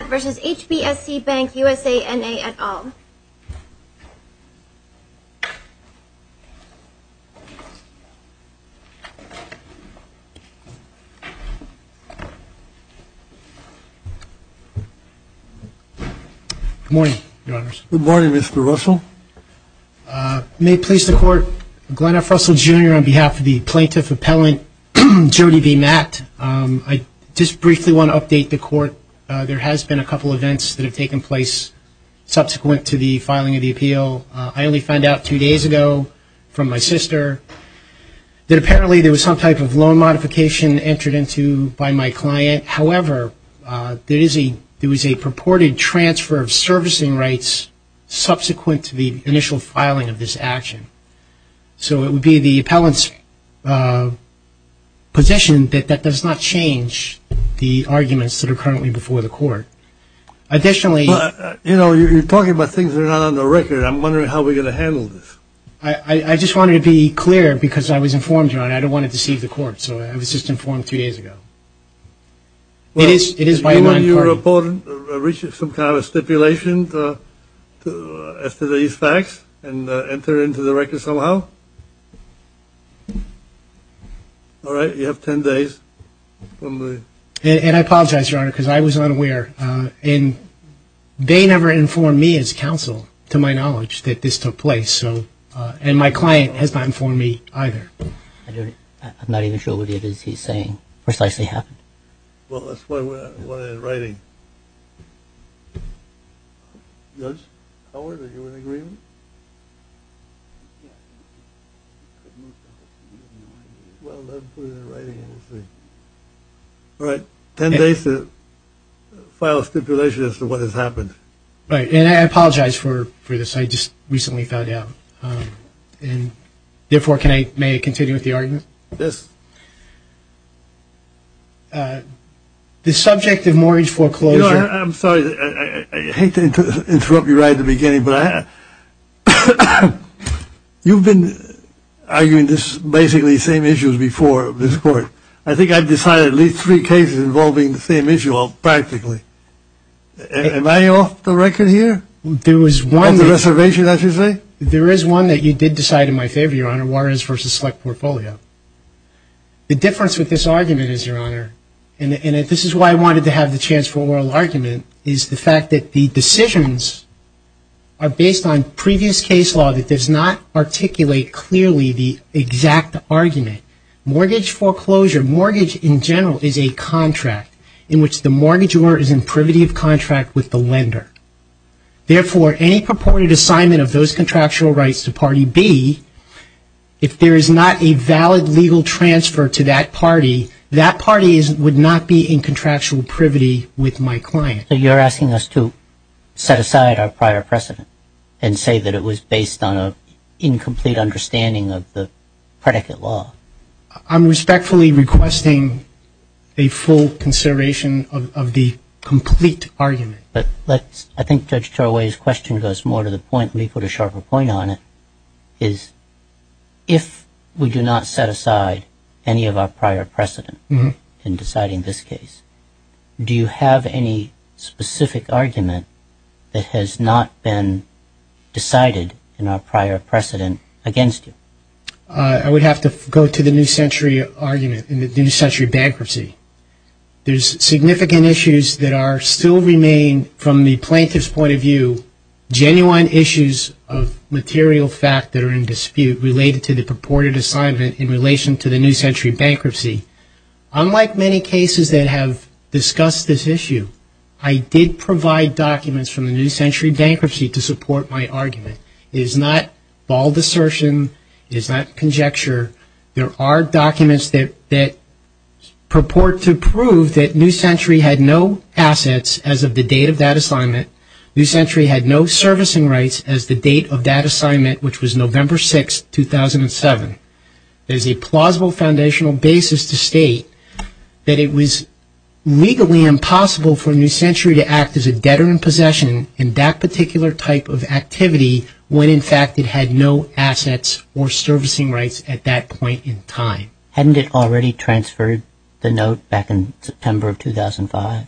Good morning, your honors. Good morning, Mr. Russell. May it please the court, Glenn F. Russell, Jr. on behalf of the plaintiff appellant Jody v. Matt, I just briefly want to update the court. There has been a couple events that have taken place subsequent to the filing of the appeal. I only found out two days ago from my sister that apparently there was some type of loan modification entered into by my client. However, there is a purported transfer of servicing rights subsequent to the initial possession that does not change the arguments that are currently before the court. Additionally Well, you know, you're talking about things that are not on the record. I'm wondering how we're going to handle this. I just wanted to be clear because I was informed, your honor. I don't want to deceive the court. So I was just informed three days ago. It is, it is by and large important to reach some kind of stipulation as to these facts and enter into the record somehow. All right. You have 10 days. And I apologize, your honor, because I was unaware. And they never informed me as counsel to my knowledge that this took place. So and my client has not informed me either. I'm not even sure what it is he's saying precisely happened. Well, that's what I wanted in writing. Judge Howard, are you in agreement? Well, let me put it in writing and we'll see. All right. 10 days to file a stipulation as to what has happened. Right. And I apologize for this. I just recently found out. And therefore, can I may continue with the argument? Yes. The subject of mortgage foreclosure. I'm sorry. I hate to interrupt you right at the beginning, but you've been arguing this basically same issues before this court. I think I've decided at least three cases involving the same issue all practically. Am I off the record here? There was one of the reservation, as you say. There is one that you did decide in my favor, your honor, Waters versus Select Portfolio. The difference with this argument is, your honor, and this is why I wanted to have the chance for oral argument, is the fact that the decisions are based on previous case law that does not articulate clearly the exact argument. Mortgage foreclosure, mortgage in general is a contract in which the mortgagor is in privity of contract with the lender. Therefore, any purported assignment of those contractual rights to party B, if there is not a valid legal transfer to that party, that party would not be in contractual privity with my client. So you're asking us to set aside our prior precedent and say that it was based on an incomplete understanding of the predicate law. I'm respectfully requesting a full consideration of the complete argument. But let's, I think Judge Tarawih's question goes more to the point, let me put a sharper point on it, is if we do not set aside any of our prior precedent in deciding this case, do you have any specific argument that has not been decided in our prior precedent against you? I would have to go to the New Century argument in the New Century Bankruptcy. There's significant issues that are, still remain from the plaintiff's point of view, genuine issues of material fact that are in dispute related to the purported assignment in relation to the New Century Bankruptcy. Unlike many cases that have discussed this issue, I did provide documents from the New Century Bankruptcy to support my argument. It is not bald assertion. It is not conjecture. There are documents that purport to prove that New Century had no assets as of the date of that assignment. New Century had no servicing rights as the date of that assignment, which was November 6, 2007. There's a plausible foundational basis to state that it was legally impossible for New Century to act as a debtor in possession in that particular type of activity when in fact it had no assets or servicing rights at that point in time. Hadn't it already transferred the note back in September of 2005?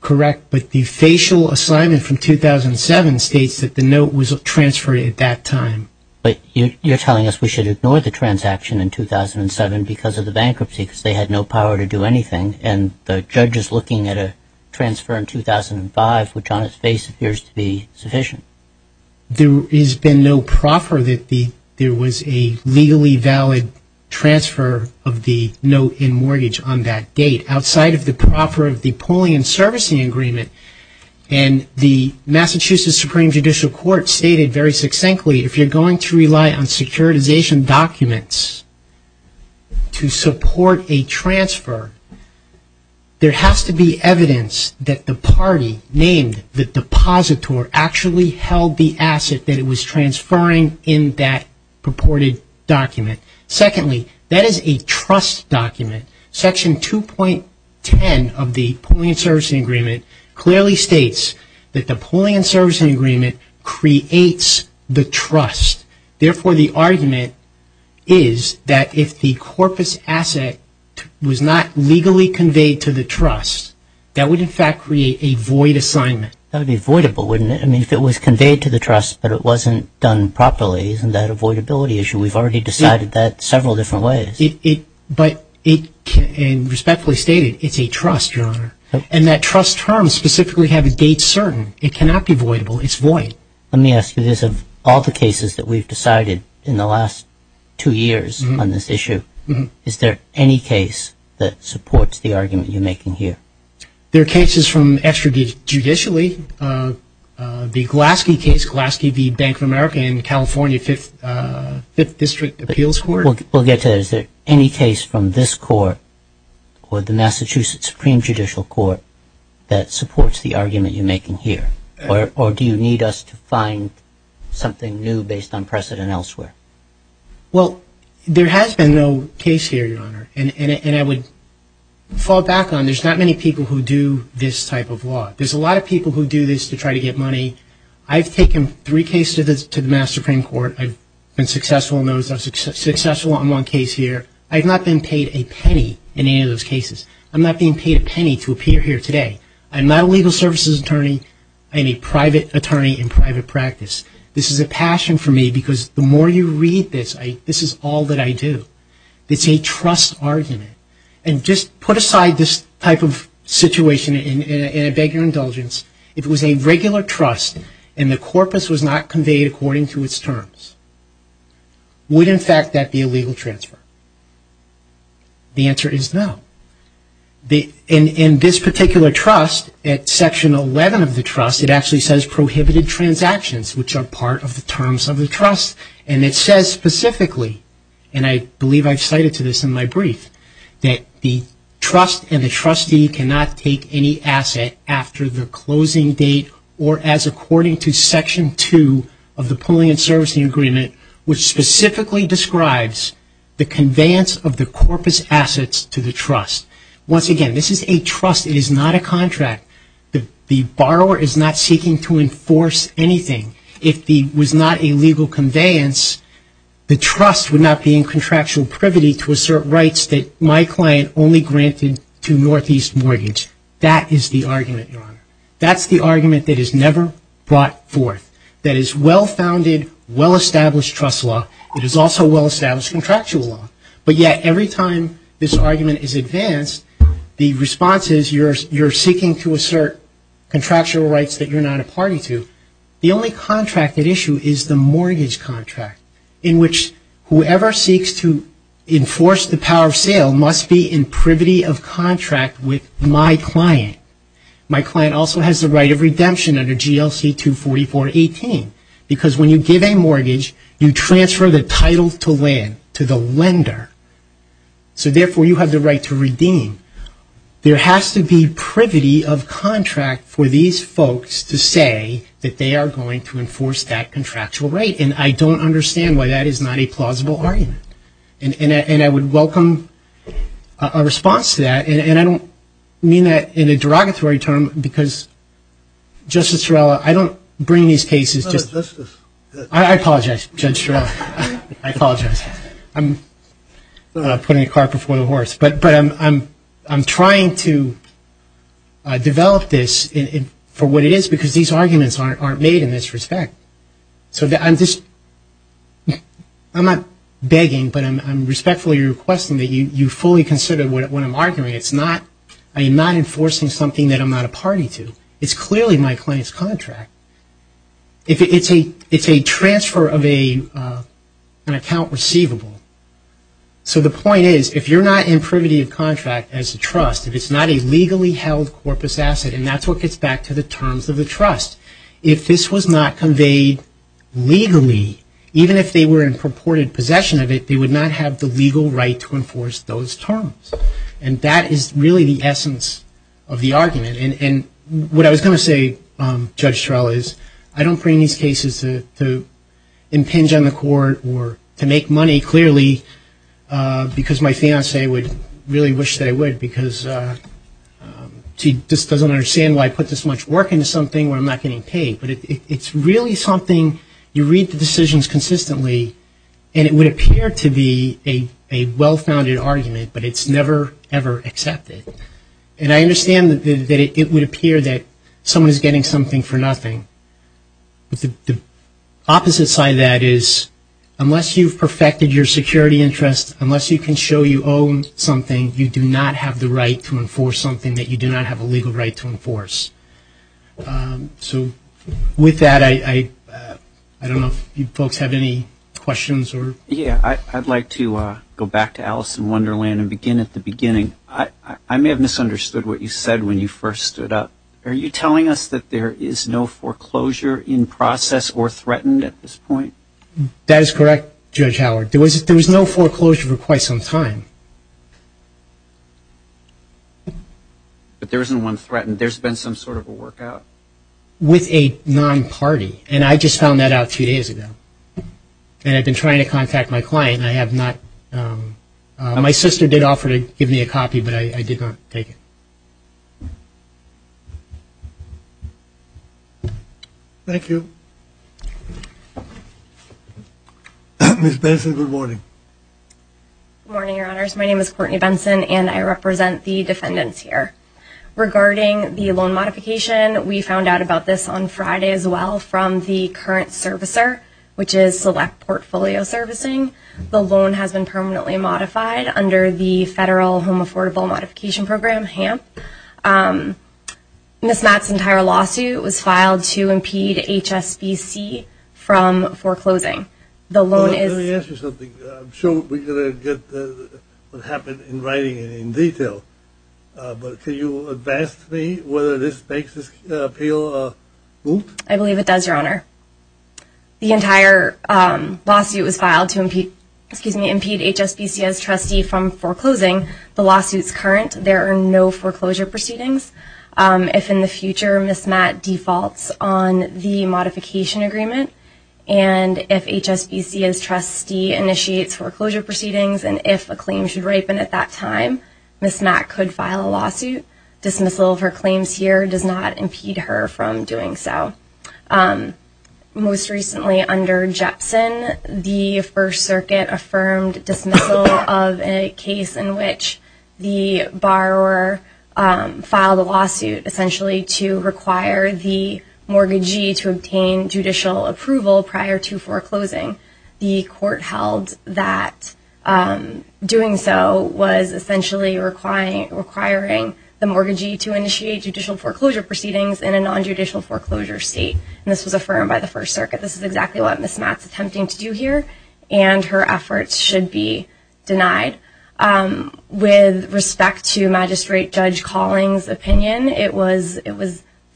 Correct, but the facial assignment from 2007 states that the note was transferred at that time. But you're telling us we should ignore the transaction in 2007 because of the bankruptcy because they had no power to do anything and the judge is looking at a transfer in 2005, which on its face appears to be sufficient. There has been no proffer that there was a legally valid transfer of the note in mortgage on that date outside of the proffer of the polling and servicing agreement. The Massachusetts Supreme Judicial Court stated very succinctly, if you're going to rely on securitization documents to support a transfer, there has to be evidence that the party named the depositor actually held the asset that it was transferring in that purported document. Secondly, that is a trust document. Section 2.10 of the polling and servicing agreement clearly states that the polling and servicing agreement creates the trust. Therefore, the conclusion is that if the corpus asset was not legally conveyed to the trust, that would in fact create a void assignment. That would be voidable, wouldn't it? I mean, if it was conveyed to the trust but it wasn't done properly, isn't that a voidability issue? We've already decided that several different ways. But it can respectfully stated, it's a trust, Your Honor, and that trust term specifically have a date certain. It cannot be voidable. It's void. Let me ask you this. Of all the cases that we've decided in the last two years on this issue, is there any case that supports the argument you're making here? There are cases from extrajudicially. The Glaske case, Glaske v. Bank of America in California Fifth District Appeals Court. We'll get to that. Is there any case from this court or the Massachusetts Supreme Judicial Court that supports the argument you're making here? Or do you need us to find something new based on precedent elsewhere? Well, there has been no case here, Your Honor. And I would fall back on, there's not many people who do this type of law. There's a lot of people who do this to try to get money. I've taken three cases to the Mass. Supreme Court. I've been successful in those. I was successful on one case here. I've not been paid a penny in any of those cases. I'm not being paid a penny to appear here today. I'm not a legal services attorney. I'm a private attorney in private practice. This is a passion for me because the more you read this, this is all that I do. It's a trust argument. And just put aside this type of situation and I beg your indulgence. If it was a regular trust and the corpus was not conveyed according to its terms, would, in fact, that be a legal transfer? The answer is no. In this particular trust, at Section 11 of the trust, it actually says prohibited transactions, which are part of the terms of the trust. And it says specifically, and I believe I've cited to this in my brief, that the trust and the trustee cannot take any asset after the closing date or as according to Section 2 of the Pulling and Servicing Agreement, which specifically describes the conveyance of the corpus assets to the trust. Once again, this is a trust. It is not a contract. The borrower is not seeking to enforce anything. If there was not a legal conveyance, the trust would not be in contractual privity to assert rights that my client only granted to Northeast Mortgage. That is the argument, Your Honor. That's the argument that is never brought forth, that is well-founded, well-established trust law. It is also well-established contractual law. But yet every time this argument is advanced, the response is you're seeking to assert contractual rights that you're not a party to. The only contracted issue is the mortgage contract in which whoever seeks to enforce the power of sale must be in privity of contract with my client. My client also has the right of redemption under GLC 244.18, because when you give a mortgage, you transfer the title to the lender, so therefore you have the right to redeem. There has to be privity of contract for these folks to say that they are going to enforce that contractual right, and I don't have a response to that, and I don't mean that in a derogatory term, because, Justice Shurella, I don't bring these cases just to... No, Justice. I apologize, Judge Shurella. I apologize. I'm putting a car before the horse. But I'm trying to develop this for what it is, because these arguments aren't made in this respect. So I'm not begging, but I'm respectfully requesting that you fully consider what I'm arguing. It's not enforcing something that I'm not a party to. It's clearly my client's contract. It's a transfer of an account receivable. So the point is, if you're not in privity of contract as a trust, if it's not a legally held corpus asset, and that's what gets back to the terms of the trust, if this was not conveyed legally, even if they were in purported possession of it, they would not have the legal right to enforce those terms. And that is really the essence of the argument. And what I was going to say, Judge Shurella, is I don't bring these cases to impinge on the court or to make money, clearly, because my fiancé would really wish that I would, because she just doesn't understand why I put this much work into something where I'm not getting paid. But it's really something, you read the decisions consistently, and it would appear to be a well-founded argument, but it's never, ever accepted. And I understand that it would appear that someone is getting something for nothing. But the opposite side of that is, unless you've perfected your security interests, unless you can show you own something, you do not have the right to enforce something that you do not have a legal right to enforce. So with that, I don't know if you folks have any questions or... Yeah, I'd like to go back to Alice in Wonderland and begin at the beginning. I may have misunderstood what you said when you first stood up. Are you telling us that there is no foreclosure in process or threatened at this point? That is correct, Judge Howard. There was no foreclosure for quite some time. But there isn't one threatened? There's been some sort of a work out? With a non-party, and I just found that out two days ago. And I've been trying to contact my client, and I have not. My sister did offer to give me a copy, but I did not take it. Thank you. Ms. Benson, good morning. Good morning, Your Honors. My name is Courtney Benson, and I represent the defendants here. Regarding the loan modification, we found out about this on Friday as well from the current servicer, which is Select Portfolio Servicing. The loan has been permanently modified under the Federal Home Affordable Modification Program, HAMP. Ms. Mott's entire lawsuit was filed to impede HSBC from foreclosing. The loan is... Let me ask you something. I'm sure we're going to get what happened in writing and in detail, but can you advance to me whether this makes this appeal moot? I believe it does, Your Honor. The entire lawsuit was filed to impede HSBC as trustee from foreclosing. The lawsuit's current. There are no foreclosure proceedings. If in the future Ms. Mott defaults on the modification agreement, and if HSBC as trustee initiates foreclosure proceedings, and if a claim should ripen at that time, Ms. Mott could file a lawsuit. Dismissal of her claims here does not impede her from doing so. Most recently under Jepson, the First Circuit affirmed dismissal of a case in which the borrower filed a lawsuit essentially to require the mortgagee to obtain judicial approval prior to foreclosing. The court held that doing so was essentially requiring the mortgagee to initiate judicial foreclosure proceedings in a non-judicial foreclosure state. This was affirmed by the First Circuit. This is exactly what Ms. Mott's attempting to do here, and her efforts should be denied. With respect to Magistrate Judge Colling's opinion, it was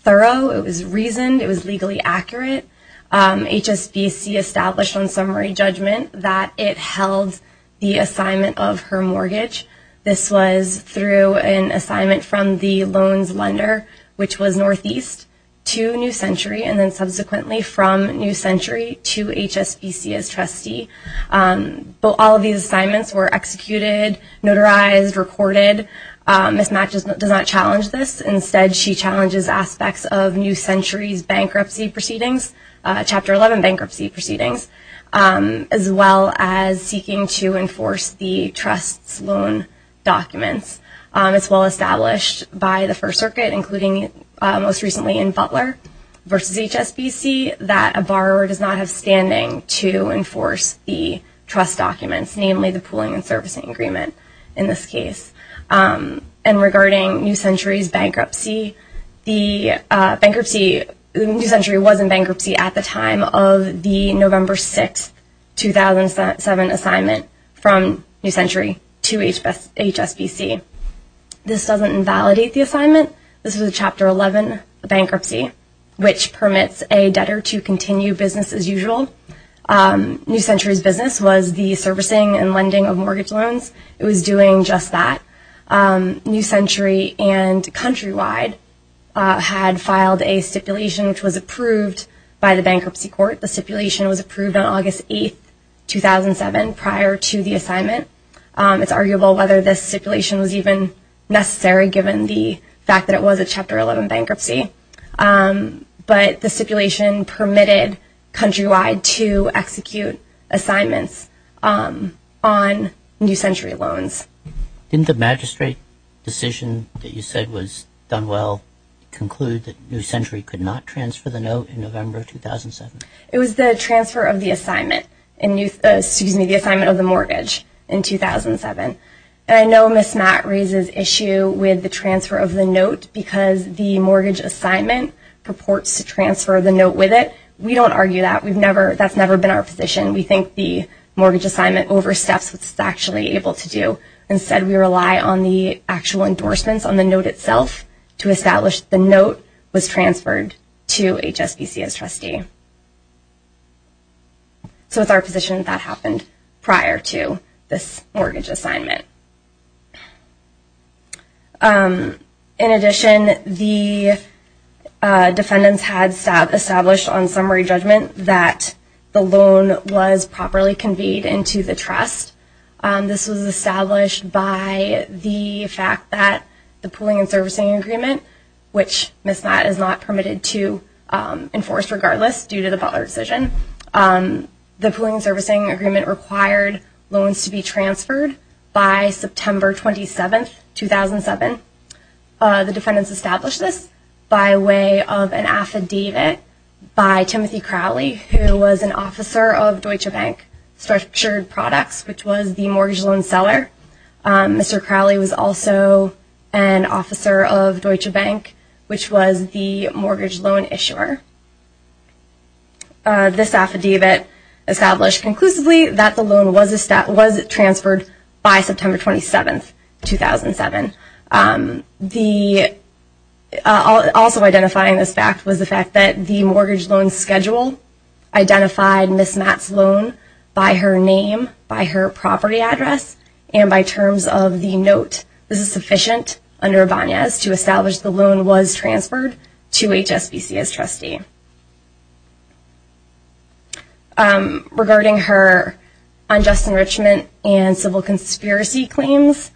thorough. It was reasoned. It was legally accurate. HSBC established on summary judgment that it held the assignment of her mortgage. This was through an assignment from the loans lender, which was Northeast, to New Century, and then subsequently from New Century to HSBC as trustee. All these assignments were executed, notarized, recorded. Ms. Mott does not challenge this. Instead, she challenges aspects of New Century's bankruptcy proceedings, Chapter 11 bankruptcy proceedings, as well as seeking to enforce the trust's loan documents. It's well established by the First Circuit, including most recently in Butler v. HSBC, that a borrower does not have standing to enforce the trust documents, namely the pooling and servicing agreement in this case. And regarding New Century's bankruptcy, New Century was in bankruptcy at the time of the November 6, 2007 assignment from New Century to HSBC. This doesn't invalidate the assignment. This was Chapter 11 bankruptcy, which permits a debtor to continue business as usual. New Century's business was the servicing and lending of mortgage loans. It was doing just that. New Century and Countrywide had filed a stipulation which was approved by the bankruptcy court. The stipulation was approved on August 8, 2007, prior to the assignment. It's arguable whether this stipulation was even necessary given the fact that it was a Chapter 11 bankruptcy. But the stipulation permitted Countrywide to execute assignments on New Century loans. Didn't the magistrate decision that you said was done well conclude that New Century could not transfer the note in November 2007? It was the transfer of the assignment, excuse me, the assignment of the mortgage in 2007. And I know Ms. Matt raises issue with the transfer of the note because the mortgage assignment purports to transfer the note with it. We don't argue that. That's never been our position. We think the mortgage assignment oversteps what it's actually able to do. Instead, we rely on the actual endorsements on the note itself to establish the note was transferred to HSBC as trustee. So it's our position that happened prior to this mortgage assignment. In addition, the defendants had established on summary judgment that the loan was properly conveyed into the trust. This was established by the fact that the pooling and servicing agreement, which Ms. Matt is not permitted to enforce regardless due to the Butler decision, the pooling and servicing agreement required loans to be transferred by September 27, 2007. The defendants established this by way of an affidavit by Timothy Crowley, who was an officer of Structured Products, which was the mortgage loan seller. Mr. Crowley was also an officer of Deutsche Bank, which was the mortgage loan issuer. This affidavit established conclusively that the loan was transferred by September 27, 2007. Also identifying this fact was the fact that the mortgage loan schedule identified Ms. Matt's loan by her name, by her property address, and by terms of the note. This is sufficient under Banyas to establish the loan was transferred to HSBC as trustee. Regarding her unjust enrichment and civil conspiracy claims,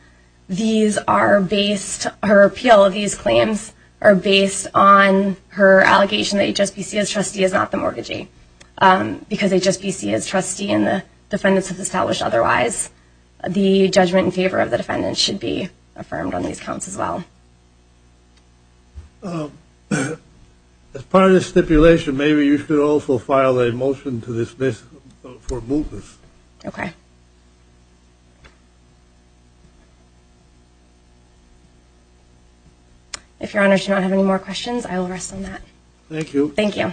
these are based, her appeal of these claims are based on her previous allegation that HSBC as trustee is not the mortgagee. Because HSBC as trustee and the defendants have established otherwise, the judgment in favor of the defendants should be affirmed on these counts as well. As part of this stipulation, maybe you should also file a motion to dismiss for mootness. Okay. If your honors do not have any more questions, I will rest on that. Thank you. Thank you.